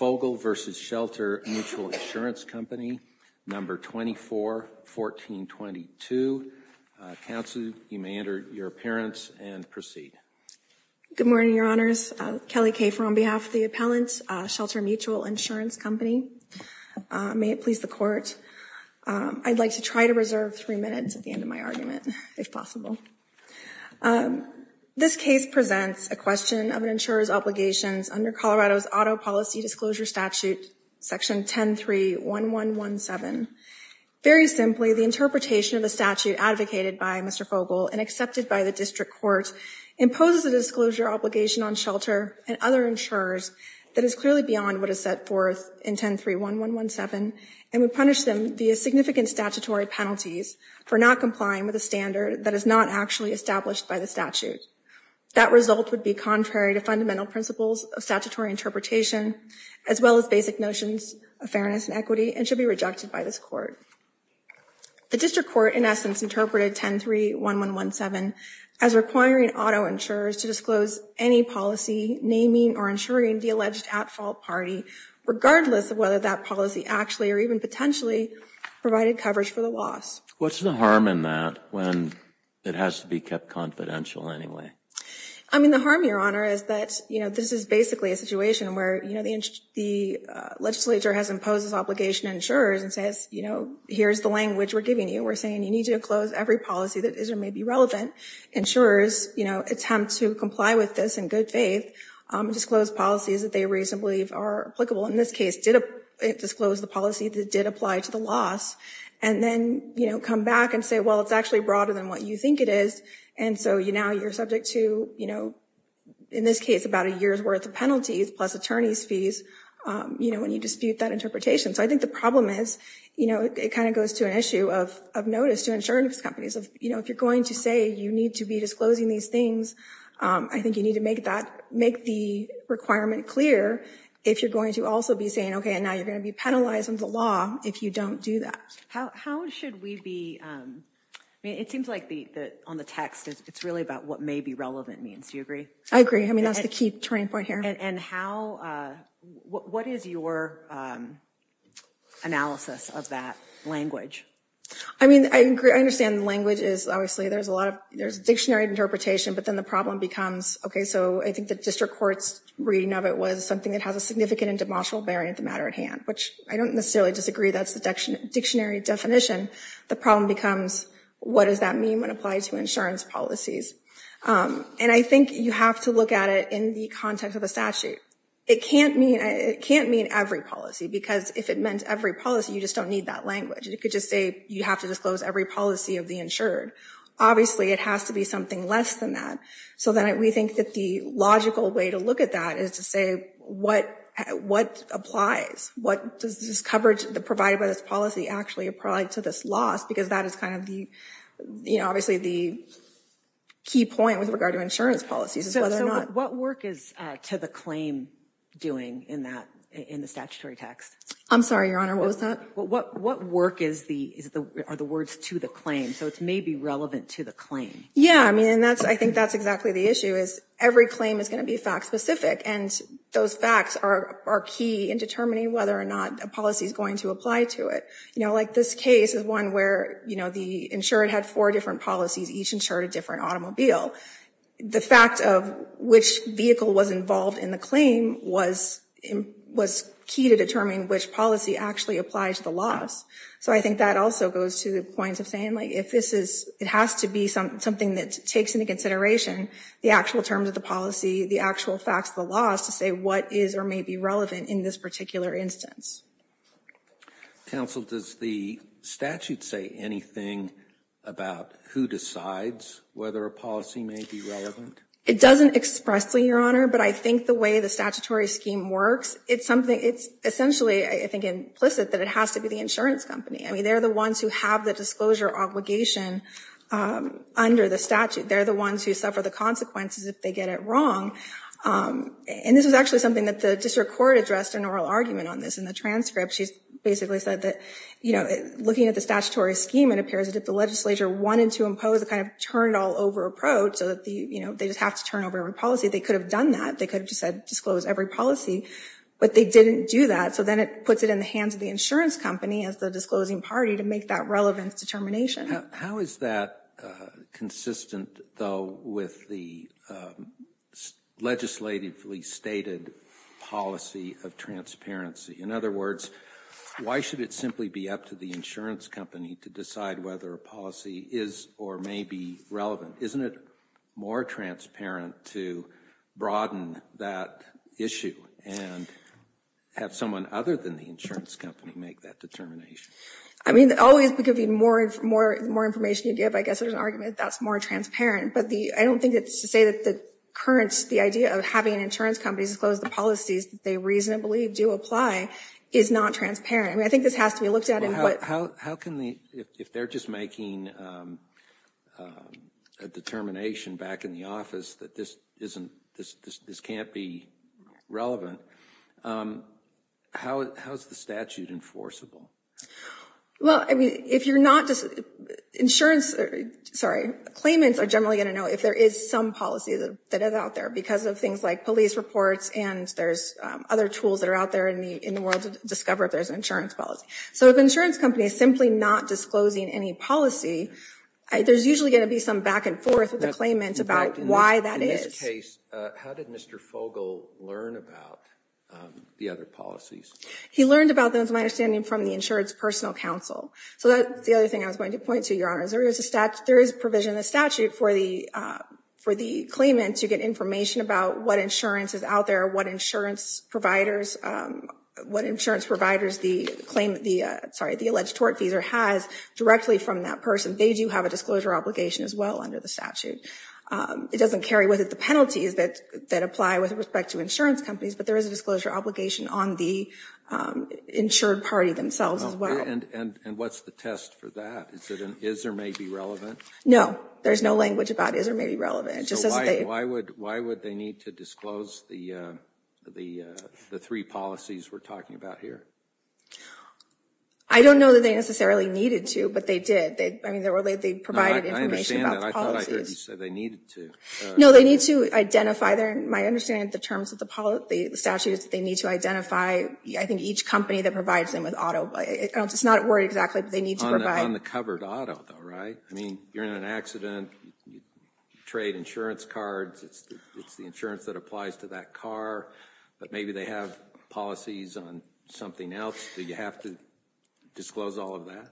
No. 24-1422. Counsel, you may enter your appearance and proceed. Good morning, Your Honors. Kelly Kafer on behalf of the appellant, Shelter Mutual Insurance Company. May it please the Court. I'd like to try to reserve three minutes at the end of my argument, if possible. This case presents a question of an insurer's obligations under Colorado's Auto Policy Disclosure Statute, Section 10-3-1117. Very simply, the interpretation of the statute advocated by Mr. Fogel and accepted by the district court imposes a disclosure obligation on shelter and other insurers that is clearly beyond what is set forth in 10-3-1117 and would punish them via significant statutory penalties for not complying with a standard that is not actually established by the statute. That result would be contrary to fundamental principles of statutory interpretation, as well as basic notions of fairness and equity, and should be rejected by this court. The district court, in essence, interpreted 10-3-1117 as requiring auto insurers to disclose any policy naming or insuring the alleged at-fault party, regardless of whether that policy actually or even potentially provided coverage for the loss. What's the harm in that when it has to be kept confidential anyway? I mean, the harm, Your Honor, is that, you know, this is basically a situation where, you know, the legislature has imposed this obligation on insurers and says, you know, here's the language we're giving you. We're saying you need to disclose every policy that is or may be relevant. Insurers, you know, attempt to comply with this in good faith, disclose policies that they reasonably believe are applicable. In this case, it disclosed the policy that did apply to the loss, and then, you know, come back and say, well, it's actually broader than what you think it is. And so, you know, you're subject to, you know, in this case, about a year's worth of penalties plus attorney's fees, you know, when you dispute that interpretation. So I think the problem is, you know, it kind of goes to an issue of notice to insurance companies. You know, if you're going to say you need to be disclosing these things, I think you need to make that, make the requirement clear if you're going to also be saying, okay, and now you're going to be penalizing the law if you don't do that. How should we be, I mean, it seems like on the text, it's really about what may be relevant means. Do you agree? I agree. I mean, that's the key turning point here. And how, what is your analysis of that language? I mean, I agree. I understand the language is, obviously, there's a lot of, there's dictionary interpretation, but then the problem becomes, okay, so I think the district court's reading of it was something that has a significant and demotional bearing of the matter at hand, which I don't necessarily disagree. That's the dictionary definition. The problem becomes, what does that mean when applied to insurance policies? And I think you have to look at it in the context of the statute. It can't mean, it can't mean every policy, because if it meant every policy, you just don't need that language. You could just say you have to disclose every policy of the insured. Obviously, it has to be something less than that. So then we think that the logical way to look at that is to say, what applies? What does this coverage provided by this policy actually apply to this loss? Because that is kind of the, you know, obviously the key point with regard to insurance policies is whether or not. So what work is to the claim doing in that, in the statutory text? I'm sorry, Your Honor, what was that? What work is the, are the words to the claim? So it's maybe relevant to the claim. Yeah, I mean, and that's, I think that's exactly the issue is every claim is going to be fact specific. And those facts are key in determining whether or not a policy is going to apply to it. You know, like this case is one where, you know, the insured had four different policies, each insured a different automobile. The fact of which vehicle was involved in the claim was key to determining which policy actually applies to the loss. So I think that also goes to the point of saying, like, if this is, it has to be something that takes into consideration the actual terms of the policy, the actual facts of the loss to say what is or may be relevant in this particular instance. Counsel, does the statute say anything about who decides whether a policy may be relevant? It doesn't expressly, Your Honor, but I think the way the statutory scheme works, it's something, it's essentially, I think, implicit that it has to be the insurance company. I mean, they're the ones who have the disclosure obligation under the statute. They're the ones who suffer the consequences if they get it wrong. And this is actually something that the district court addressed an oral argument on this in the transcript. She basically said that, you know, looking at the statutory scheme, it appears that the legislature wanted to impose a kind of turn it all over approach so that, you know, they just have to turn over every policy. They could have done that. They could have just said disclose every policy, but they didn't do that. So then it puts it in the hands of the insurance company as the disclosing party to make that relevant determination. How is that consistent, though, with the legislatively stated policy of transparency? In other words, why should it simply be up to the insurance company to decide whether a policy is or may be relevant? Isn't it more transparent to broaden that issue and have someone other than the insurance company make that determination? I mean, always, the more information you give, I guess there's an argument that that's more transparent. But I don't think it's to say that the current idea of having insurance companies disclose the policies that they reasonably do apply is not transparent. I mean, I think this has to be looked at. If they're just making a determination back in the office that this can't be relevant, how is the statute enforceable? Well, I mean, if you're not just insurance, sorry, claimants are generally going to know if there is some policy that is out there because of things like police reports and there's other tools that are out there in the world to discover if there's an insurance policy. So if an insurance company is simply not disclosing any policy, there's usually going to be some back and forth with the claimant about why that is. In this case, how did Mr. Fogle learn about the other policies? He learned about them, to my understanding, from the Insurance Personal Counsel. So that's the other thing I was going to point to, Your Honor, is there is provision in the statute for the claimant to get information about what insurance is out there, what insurance providers the alleged tortfeasor has directly from that person. They do have a disclosure obligation as well under the statute. It doesn't carry with it the penalties that apply with respect to insurance companies, but there is a disclosure obligation on the insured party themselves as well. And what's the test for that? Is it an is or may be relevant? No, there's no language about is or may be relevant. So why would they need to disclose the three policies we're talking about here? I don't know that they necessarily needed to, but they did. I mean, they provided information about the policies. I understand that. I thought I heard you say they needed to. No, they need to identify. My understanding of the terms of the statute is that they need to identify, I think, each company that provides them with auto. It's not worded exactly, but they need to provide. On the covered auto, though, right? I mean, you're in an accident. You trade insurance cards. It's the insurance that applies to that car. But maybe they have policies on something else. Do you have to disclose all of that?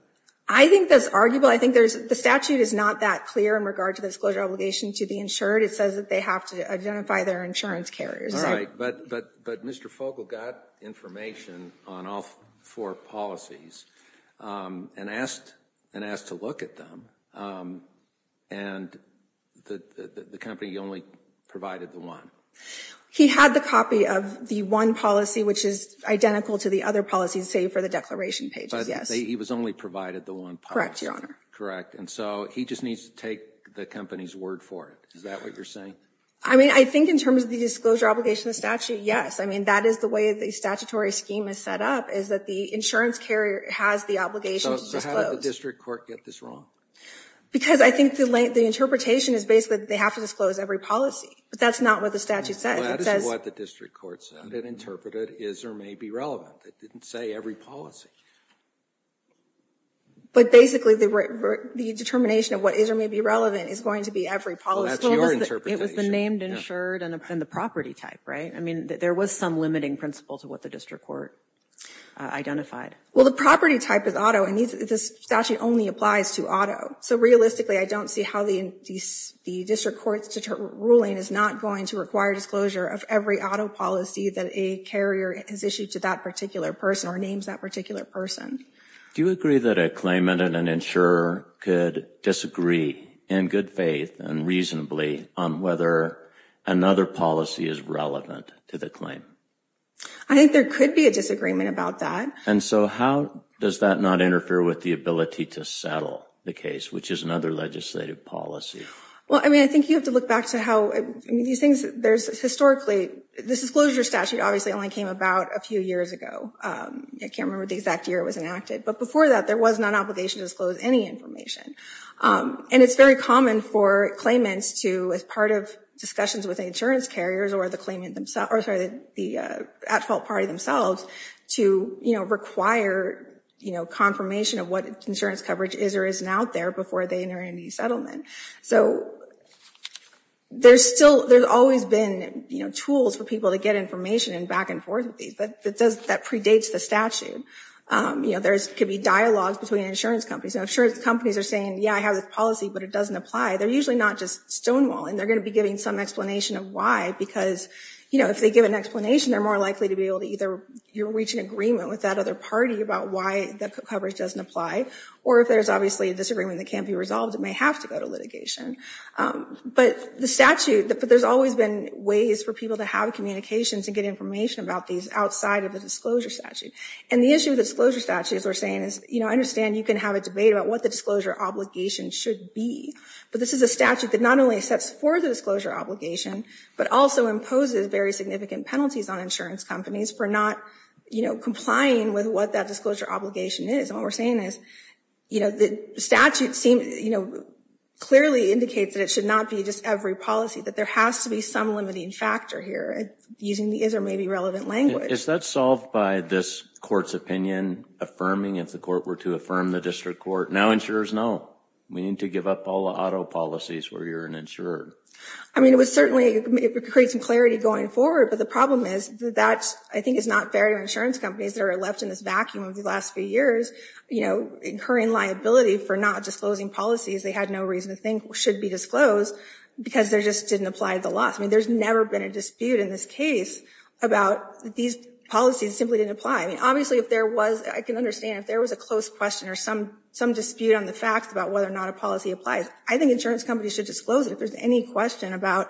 I think that's arguable. I think the statute is not that clear in regard to the disclosure obligation to the insured. It says that they have to identify their insurance carriers. All right, but Mr. Fogle got information on all four policies and asked to look at them, and the company only provided the one. He had the copy of the one policy, which is identical to the other policies, save for the declaration pages, yes. But he was only provided the one policy. Correct, Your Honor. Correct, and so he just needs to take the company's word for it. Is that what you're saying? I mean, I think in terms of the disclosure obligation of the statute, yes. I mean, that is the way the statutory scheme is set up, is that the insurance carrier has the obligation to disclose. So how did the district court get this wrong? Because I think the interpretation is basically that they have to disclose every policy, but that's not what the statute said. That is what the district court said. It interpreted is or may be relevant. It didn't say every policy. But basically, the determination of what is or may be relevant is going to be every policy. Well, that's your interpretation. It was the named, insured, and the property type, right? I mean, there was some limiting principle to what the district court identified. Well, the property type is auto, and this statute only applies to auto. So realistically, I don't see how the district court's ruling is not going to require disclosure of every auto policy that a carrier has issued to that particular person or names that particular person. Do you agree that a claimant and an insurer could disagree in good faith and reasonably on whether another policy is relevant to the claim? I think there could be a disagreement about that. And so how does that not interfere with the ability to settle the case, which is another legislative policy? Well, I mean, I think you have to look back to how these things, there's historically, the disclosure statute obviously only came about a few years ago. I can't remember the exact year it was enacted. But before that, there was not an obligation to disclose any information. And it's very common for claimants to, as part of discussions with insurance carriers or the claimant themselves, or sorry, the at-fault party themselves, to, you know, require, you know, confirmation of what insurance coverage is or isn't out there before they enter into the settlement. So there's still, there's always been, you know, tools for people to get information and back and forth with these. But that predates the statute. You know, there could be dialogues between insurance companies. And insurance companies are saying, yeah, I have this policy, but it doesn't apply. They're usually not just stonewalling. They're going to be giving some explanation of why, because, you know, if they give an explanation, they're more likely to be able to either reach an agreement with that other party about why the coverage doesn't apply, or if there's obviously a disagreement that can't be resolved, it may have to go to litigation. But the statute, there's always been ways for people to have communications and get information about these outside of the disclosure statute. And the issue with the disclosure statute, as we're saying, is, you know, I understand you can have a debate about what the disclosure obligation should be. But this is a statute that not only sets forth a disclosure obligation, but also imposes very significant penalties on insurance companies for not, you know, complying with what that disclosure obligation is. And what we're saying is, you know, the statute, you know, clearly indicates that it should not be just every policy, that there has to be some limiting factor here, using the is or may be relevant language. Is that solved by this court's opinion affirming, if the court were to affirm the district court, now insurers know, we need to give up all the auto policies where you're an insurer? I mean, it would certainly create some clarity going forward. But the problem is that I think it's not fair to insurance companies that are left in this vacuum over the last few years, you know, incurring liability for not disclosing policies they had no reason to think should be disclosed, because they just didn't apply the laws. I mean, there's never been a dispute in this case about these policies simply didn't apply. I mean, obviously, if there was, I can understand if there was a close question or some dispute on the facts about whether or not a policy applies, I think insurance companies should disclose it. If there's any question about,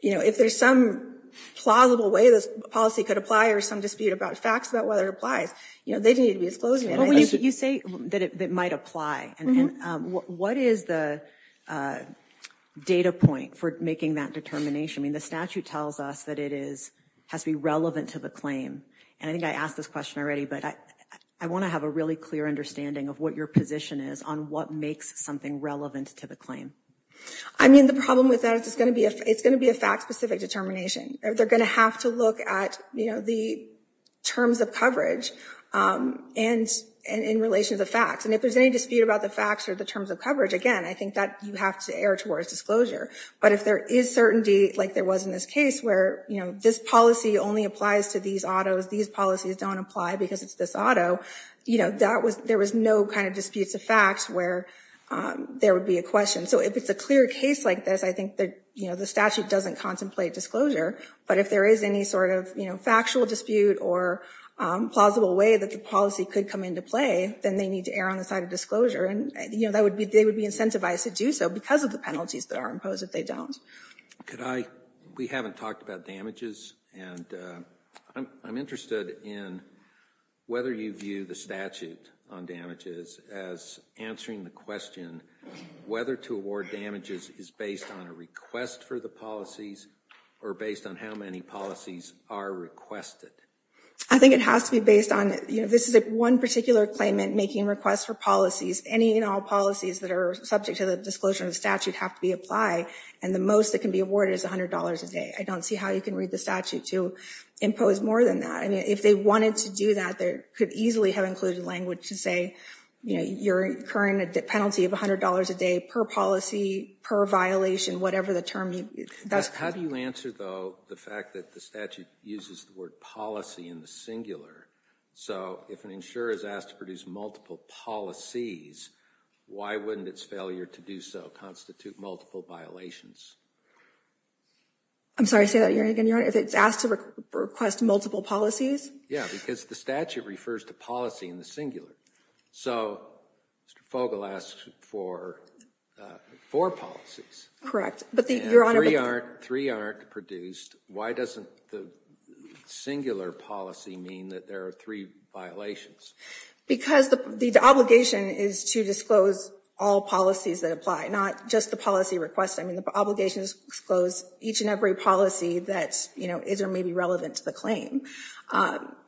you know, if there's some plausible way this policy could apply or some dispute about facts about whether it applies, you know, they need to be disclosed. You say that it might apply. What is the data point for making that determination? I mean, the statute tells us that it has to be relevant to the claim. And I think I asked this question already, but I want to have a really clear understanding of what your position is on what makes something relevant to the claim. I mean, the problem with that is it's going to be a fact-specific determination. They're going to have to look at, you know, the terms of coverage and in relation to the facts. And if there's any dispute about the facts or the terms of coverage, again, I think that you have to err towards disclosure. But if there is certainty, like there was in this case, where, you know, this policy only applies to these autos, these policies don't apply because it's this auto, you know, there was no kind of dispute to facts where there would be a question. So if it's a clear case like this, I think that, you know, the statute doesn't contemplate disclosure. But if there is any sort of, you know, factual dispute or plausible way that the policy could come into play, then they need to err on the side of disclosure. And, you know, they would be incentivized to do so because of the penalties that are imposed if they don't. Could I – we haven't talked about damages. And I'm interested in whether you view the statute on damages as answering the question whether to award damages is based on a request for the policies or based on how many policies are requested. I think it has to be based on, you know, this is one particular claimant making requests for policies. Any and all policies that are subject to the disclosure of the statute have to be applied. And the most that can be awarded is $100 a day. I don't see how you can read the statute to impose more than that. I mean, if they wanted to do that, they could easily have included language to say, you know, you're incurring a penalty of $100 a day per policy, per violation, whatever the term. How do you answer, though, the fact that the statute uses the word policy in the singular? So if an insurer is asked to produce multiple policies, why wouldn't its failure to do so constitute multiple violations? I'm sorry, say that again, Your Honor. If it's asked to request multiple policies? Yeah, because the statute refers to policy in the singular. So Mr. Fogle asked for four policies. But the, Your Honor. Three aren't produced. Why doesn't the singular policy mean that there are three violations? Because the obligation is to disclose all policies that apply, not just the policy request. I mean, the obligation is to disclose each and every policy that, you know, is or may be relevant to the claim.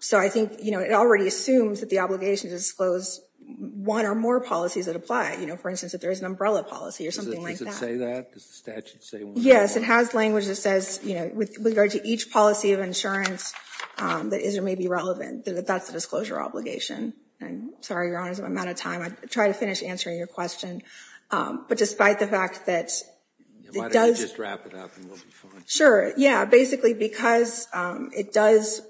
So I think, you know, it already assumes that the obligation is to disclose one or more policies that apply. You know, for instance, if there is an umbrella policy or something like that. Does it say that? Does the statute say one or more? Yes, it has language that says, you know, with regard to each policy of insurance that is or may be relevant, that that's the disclosure obligation. I'm sorry, Your Honor, I'm out of time. I'll try to finish answering your question. But despite the fact that it does. Why don't you just wrap it up and we'll be fine. Sure. Yeah, basically because it does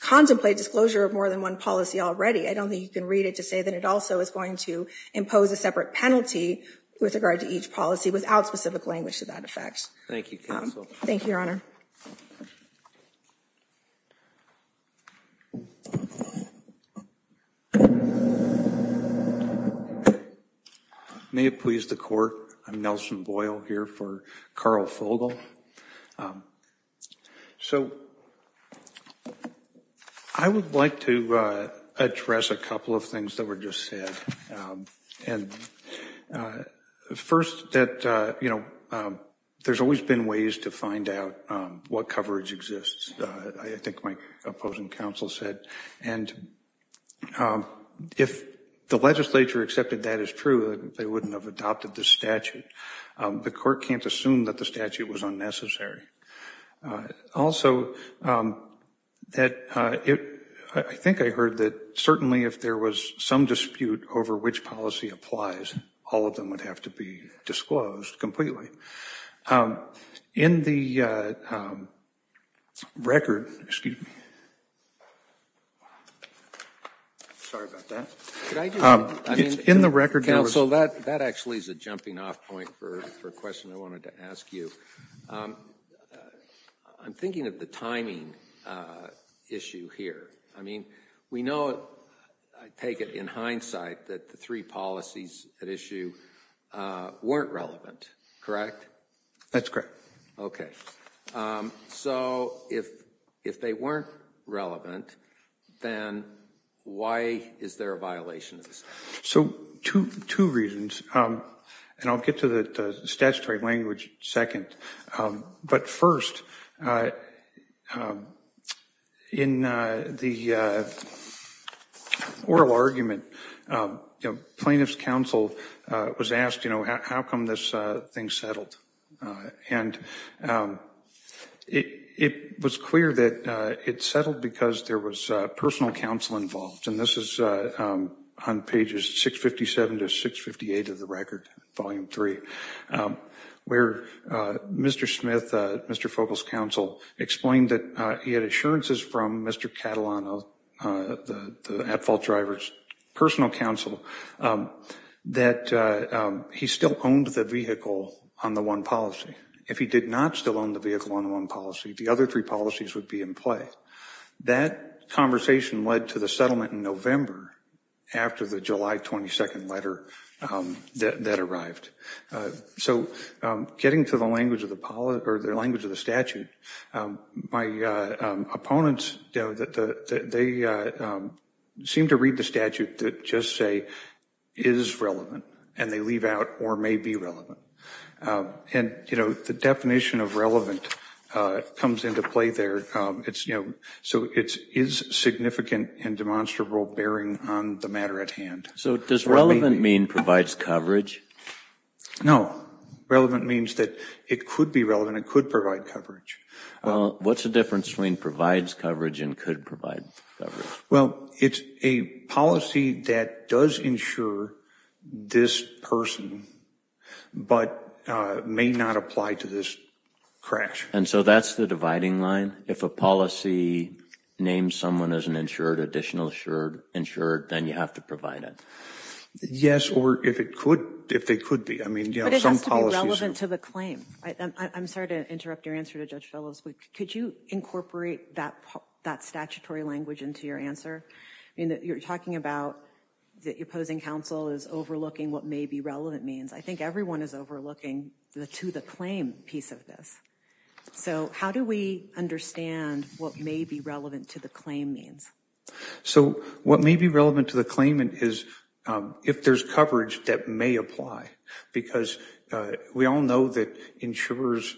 contemplate disclosure of more than one policy already. I don't think you can read it to say that it also is going to impose a separate penalty with regard to each policy without specific language to that effect. Thank you. Thank you, Your Honor. May it please the court. I'm Nelson Boyle here for Carl Fogle. So I would like to address a couple of things that were just said. And first that, you know, there's always been ways to find out what coverage exists. I think my opposing counsel said. And if the legislature accepted that as true, they wouldn't have adopted the statute. The court can't assume that the statute was unnecessary. Also, I think I heard that certainly if there was some dispute over which policy applies, all of them would have to be disclosed completely. In the record. Excuse me. Sorry about that. In the record. So that that actually is a jumping off point for a question I wanted to ask you. I'm thinking of the timing issue here. I mean, we know it. I take it in hindsight that the three policies at issue weren't relevant. Correct. That's correct. OK. So if if they weren't relevant, then why is there a violation? So two reasons. And I'll get to the statutory language second. But first, in the oral argument, plaintiff's counsel was asked, you know, how come this thing settled? And it was clear that it settled because there was personal counsel involved. And this is on pages 657 to 658 of the record, Volume 3, where Mr. Smith, Mr. Fogle's counsel, explained that he had assurances from Mr. Catalano, the at-fault driver's personal counsel, that he still owned the vehicle on the one policy. If he did not still own the vehicle on one policy, the other three policies would be in play. That conversation led to the settlement in November after the July 22 letter that arrived. So getting to the language of the statute, my opponents, they seem to read the statute that just say is relevant, and they leave out or may be relevant. And, you know, the definition of relevant comes into play there. So it is significant and demonstrable bearing on the matter at hand. So does relevant mean provides coverage? No. Relevant means that it could be relevant, it could provide coverage. What's the difference between provides coverage and could provide coverage? Well, it's a policy that does insure this person, but may not apply to this crash. And so that's the dividing line? If a policy names someone as an insured, additional insured, then you have to provide it? Yes, or if it could, if they could be. But it has to be relevant to the claim. I'm sorry to interrupt your answer to Judge Fellows. Could you incorporate that statutory language into your answer? You're talking about the opposing counsel is overlooking what may be relevant means. I think everyone is overlooking the to the claim piece of this. So how do we understand what may be relevant to the claim means? So what may be relevant to the claim is if there's coverage that may apply, because we all know that insurers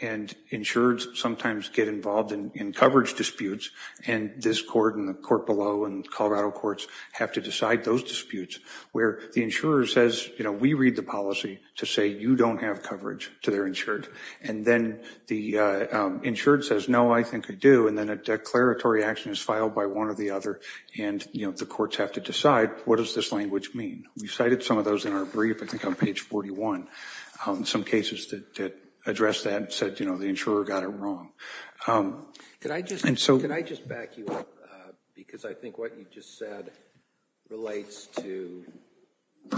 and insureds sometimes get involved in coverage disputes. And this court and the court below and Colorado courts have to decide those disputes where the insurer says, you know, we read the policy to say you don't have coverage to their insured. And then the insured says, no, I think I do. And then a declaratory action is filed by one or the other. And, you know, the courts have to decide what does this language mean? We cited some of those in our brief, I think on page 41. Some cases that address that said, you know, the insurer got it wrong. Could I just back you up? Because I think what you just said relates to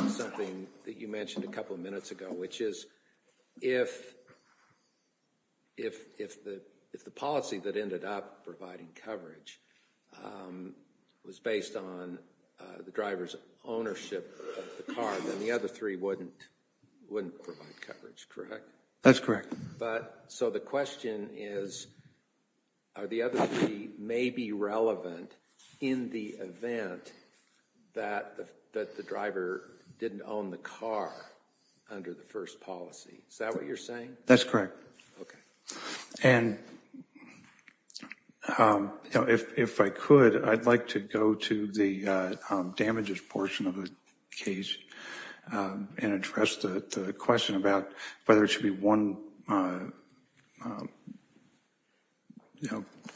something that you mentioned a couple of minutes ago, which is if the policy that ended up providing coverage was based on the driver's ownership of the car, then the other three wouldn't provide coverage, correct? That's correct. So the question is, are the other three maybe relevant in the event that the driver didn't own the car under the first policy? Is that what you're saying? That's correct. Okay. And, you know, if I could, I'd like to go to the damages portion of the case and address the question about whether it should be one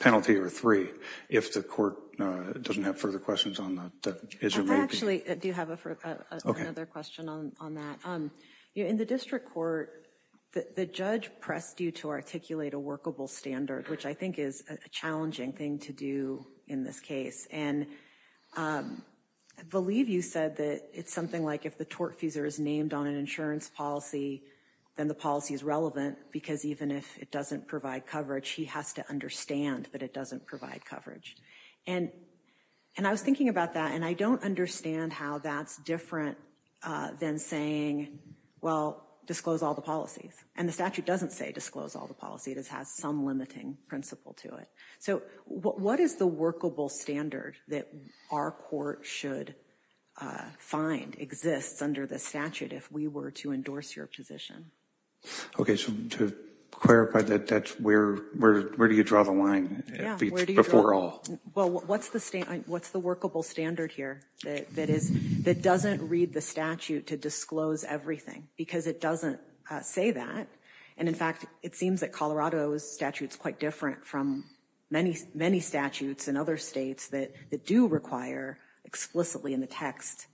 penalty or three if the court doesn't have further questions on that. Actually, I do have another question on that. In the district court, the judge pressed you to articulate a workable standard, which I think is a challenging thing to do in this case. And I believe you said that it's something like if the tortfeasor is named on an insurance policy, then the policy is relevant because even if it doesn't provide coverage, he has to understand that it doesn't provide coverage. And I was thinking about that, and I don't understand how that's different than saying, well, disclose all the policies. And the statute doesn't say disclose all the policies. It has some limiting principle to it. So what is the workable standard that our court should find exists under the statute if we were to endorse your position? Okay, so to clarify that, where do you draw the line before all? Well, what's the workable standard here that doesn't read the statute to disclose everything? Because it doesn't say that. And in fact, it seems that Colorado's statute is quite different from many, many statutes in other states that do require explicitly in the text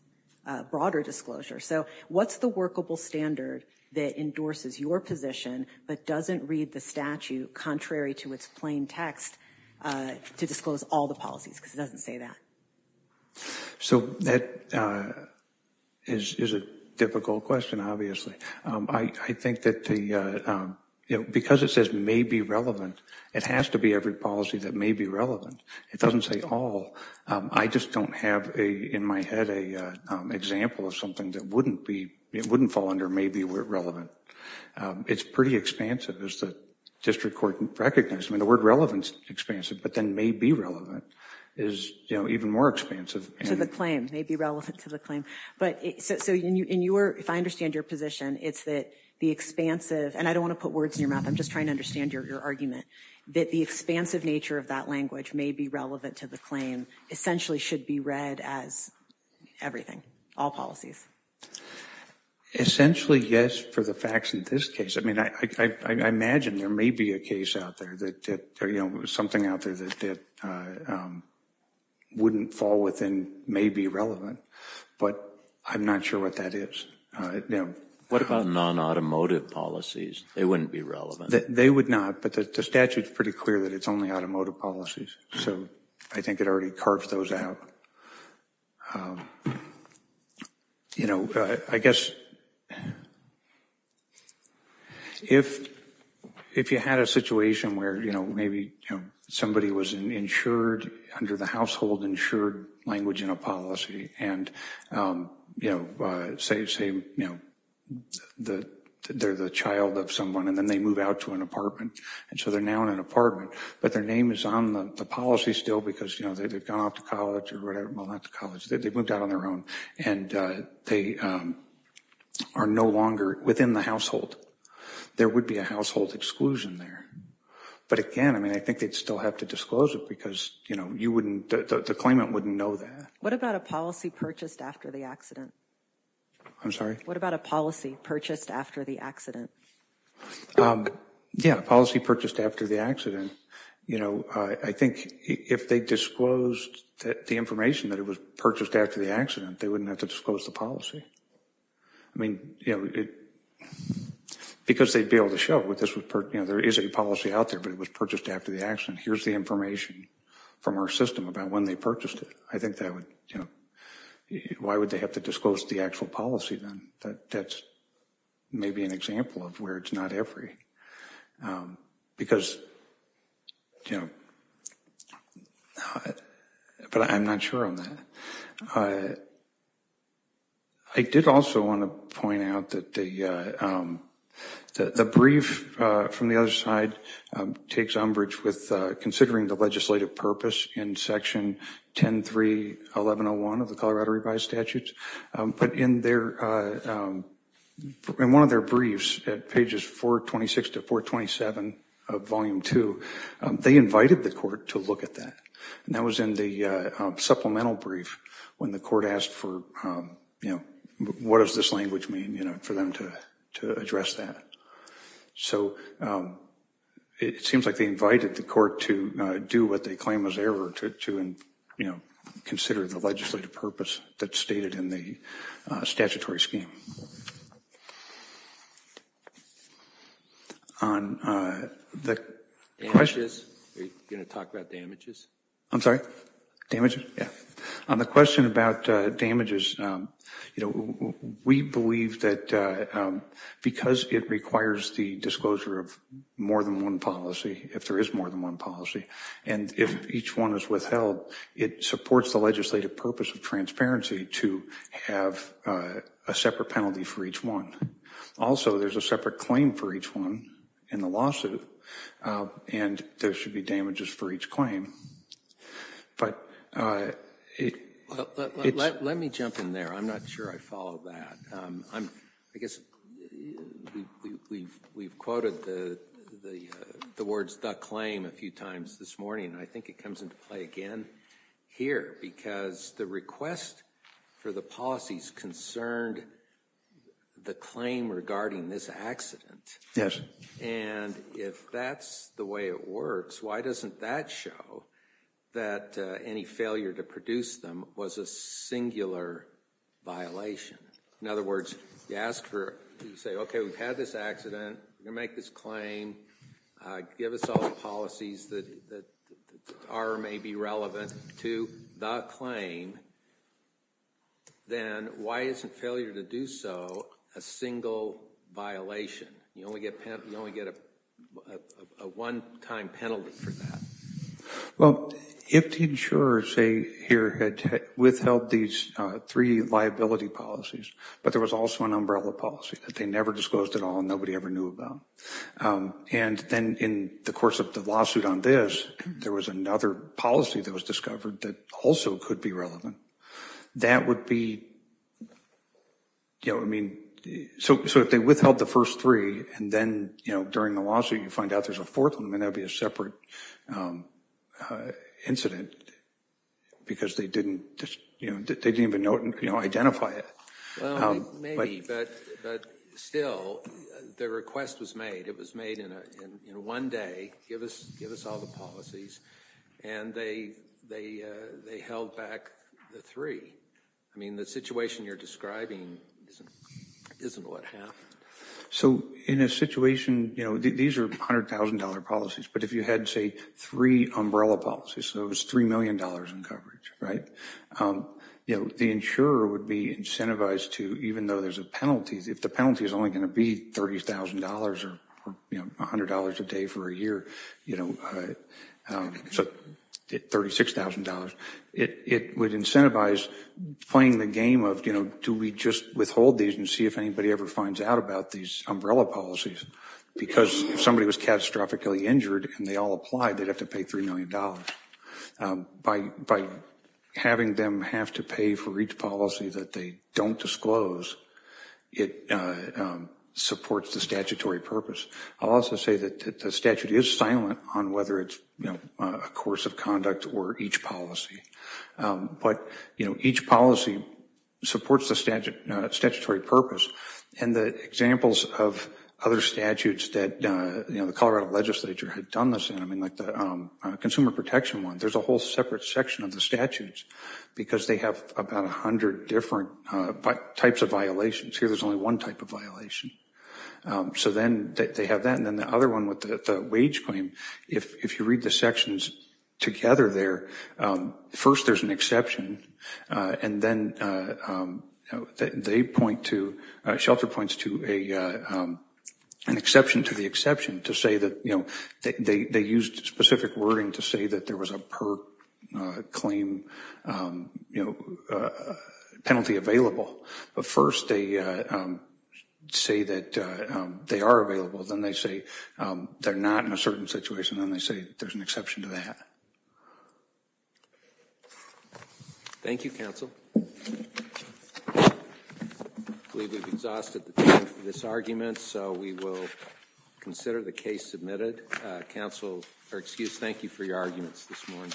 broader disclosure. So what's the workable standard that endorses your position but doesn't read the statute contrary to its plain text to disclose all the policies? Because it doesn't say that. So that is a difficult question, obviously. I think that because it says may be relevant, it has to be every policy that may be relevant. It doesn't say all. I just don't have in my head an example of something that wouldn't fall under may be relevant. It's pretty expansive, as the district court recognized. I mean, the word relevant is expansive, but then may be relevant is even more expansive. So the claim, may be relevant to the claim. So if I understand your position, it's that the expansive, and I don't want to put words in your mouth, I'm just trying to understand your argument, that the expansive nature of that language, may be relevant to the claim, essentially should be read as everything, all policies. Essentially, yes, for the facts in this case. I mean, I imagine there may be a case out there that, you know, something out there that wouldn't fall within may be relevant. But I'm not sure what that is. What about non-automotive policies? They wouldn't be relevant. They would not, but the statute is pretty clear that it's only automotive policies. So I think it already carved those out. You know, I guess if you had a situation where, you know, maybe somebody was insured under the household insured language in a policy, and, you know, say, you know, they're the child of someone, and then they move out to an apartment, and so they're now in an apartment, but their name is on the policy still because, you know, they've gone off to college or whatever, well, not to college, they've moved out on their own, and they are no longer within the household. There would be a household exclusion there. But again, I mean, I think they'd still have to disclose it because, you know, you wouldn't, the claimant wouldn't know that. What about a policy purchased after the accident? I'm sorry? What about a policy purchased after the accident? Yeah, a policy purchased after the accident. You know, I think if they disclosed the information that it was purchased after the accident, they wouldn't have to disclose the policy. I mean, you know, because they'd be able to show, you know, there is a policy out there, but it was purchased after the accident. Here's the information from our system about when they purchased it. I think that would, you know, why would they have to disclose the actual policy then? That's maybe an example of where it's not every. Because, you know, but I'm not sure on that. I did also want to point out that the brief from the other side takes umbrage with considering the legislative purpose in section 10.3.1101 of the Colorado revised statutes. But in their, in one of their briefs at pages 426 to 427 of volume two, they invited the court to look at that. And that was in the supplemental brief when the court asked for, you know, what does this language mean, you know, for them to address that. So it seems like they invited the court to do what they claim was error to, you know, consider the legislative purpose that's stated in the statutory scheme. On the question. Are you going to talk about damages? I'm sorry? Damages? Yeah. On the question about damages, you know, we believe that because it requires the disclosure of more than one policy, if there is more than one policy, and if each one is withheld, it supports the legislative purpose of transparency to have a separate penalty for each one. Also, there's a separate claim for each one in the lawsuit, and there should be damages for each claim. But it. Let me jump in there. I'm not sure I follow that. I guess we've quoted the words the claim a few times this morning, and I think it comes into play again here, because the request for the policies concerned the claim regarding this accident. Yes. And if that's the way it works, why doesn't that show that any failure to produce them was a singular violation? In other words, you ask for it. You say, okay, we've had this accident. You make this claim. Give us all the policies that are or may be relevant to the claim. Then why isn't failure to do so a single violation? You only get a one-time penalty for that. Well, if the insurers here had withheld these three liability policies, but there was also an umbrella policy that they never disclosed at all and nobody ever knew about, and then in the course of the lawsuit on this, there was another policy that was discovered that also could be relevant, that would be, I mean, so if they withheld the first three and then during the lawsuit you find out there's a fourth one, that would be a separate incident because they didn't even identify it. Well, maybe, but still the request was made. It was made in one day. Give us all the policies, and they held back the three. I mean, the situation you're describing isn't what happened. So in a situation, you know, these are $100,000 policies, but if you had, say, three umbrella policies, so it was $3 million in coverage, right, the insurer would be incentivized to, even though there's a penalty, if the penalty is only going to be $30,000 or $100 a day for a year, you know, so $36,000, it would incentivize playing the game of, you know, do we just withhold these and see if anybody ever finds out about these umbrella policies because if somebody was catastrophically injured and they all applied, they'd have to pay $3 million. By having them have to pay for each policy that they don't disclose, it supports the statutory purpose. I'll also say that the statute is silent on whether it's, you know, a course of conduct or each policy. But, you know, each policy supports the statutory purpose, and the examples of other statutes that, you know, the Colorado legislature had done this in, I mean, like the consumer protection one, there's a whole separate section of the statutes because they have about 100 different types of violations. Here there's only one type of violation. So then they have that. And then the other one with the wage claim, if you read the sections together there, first there's an exception, and then they point to, Shelter points to an exception to the exception to say that, you know, they used specific wording to say that there was a per-claim penalty available. But first they say that they are available. Then they say they're not in a certain situation. Then they say there's an exception to that. Thank you, counsel. I believe we've exhausted the time for this argument, so we will consider the case submitted. Counsel, or excuse me, thank you for your arguments this morning.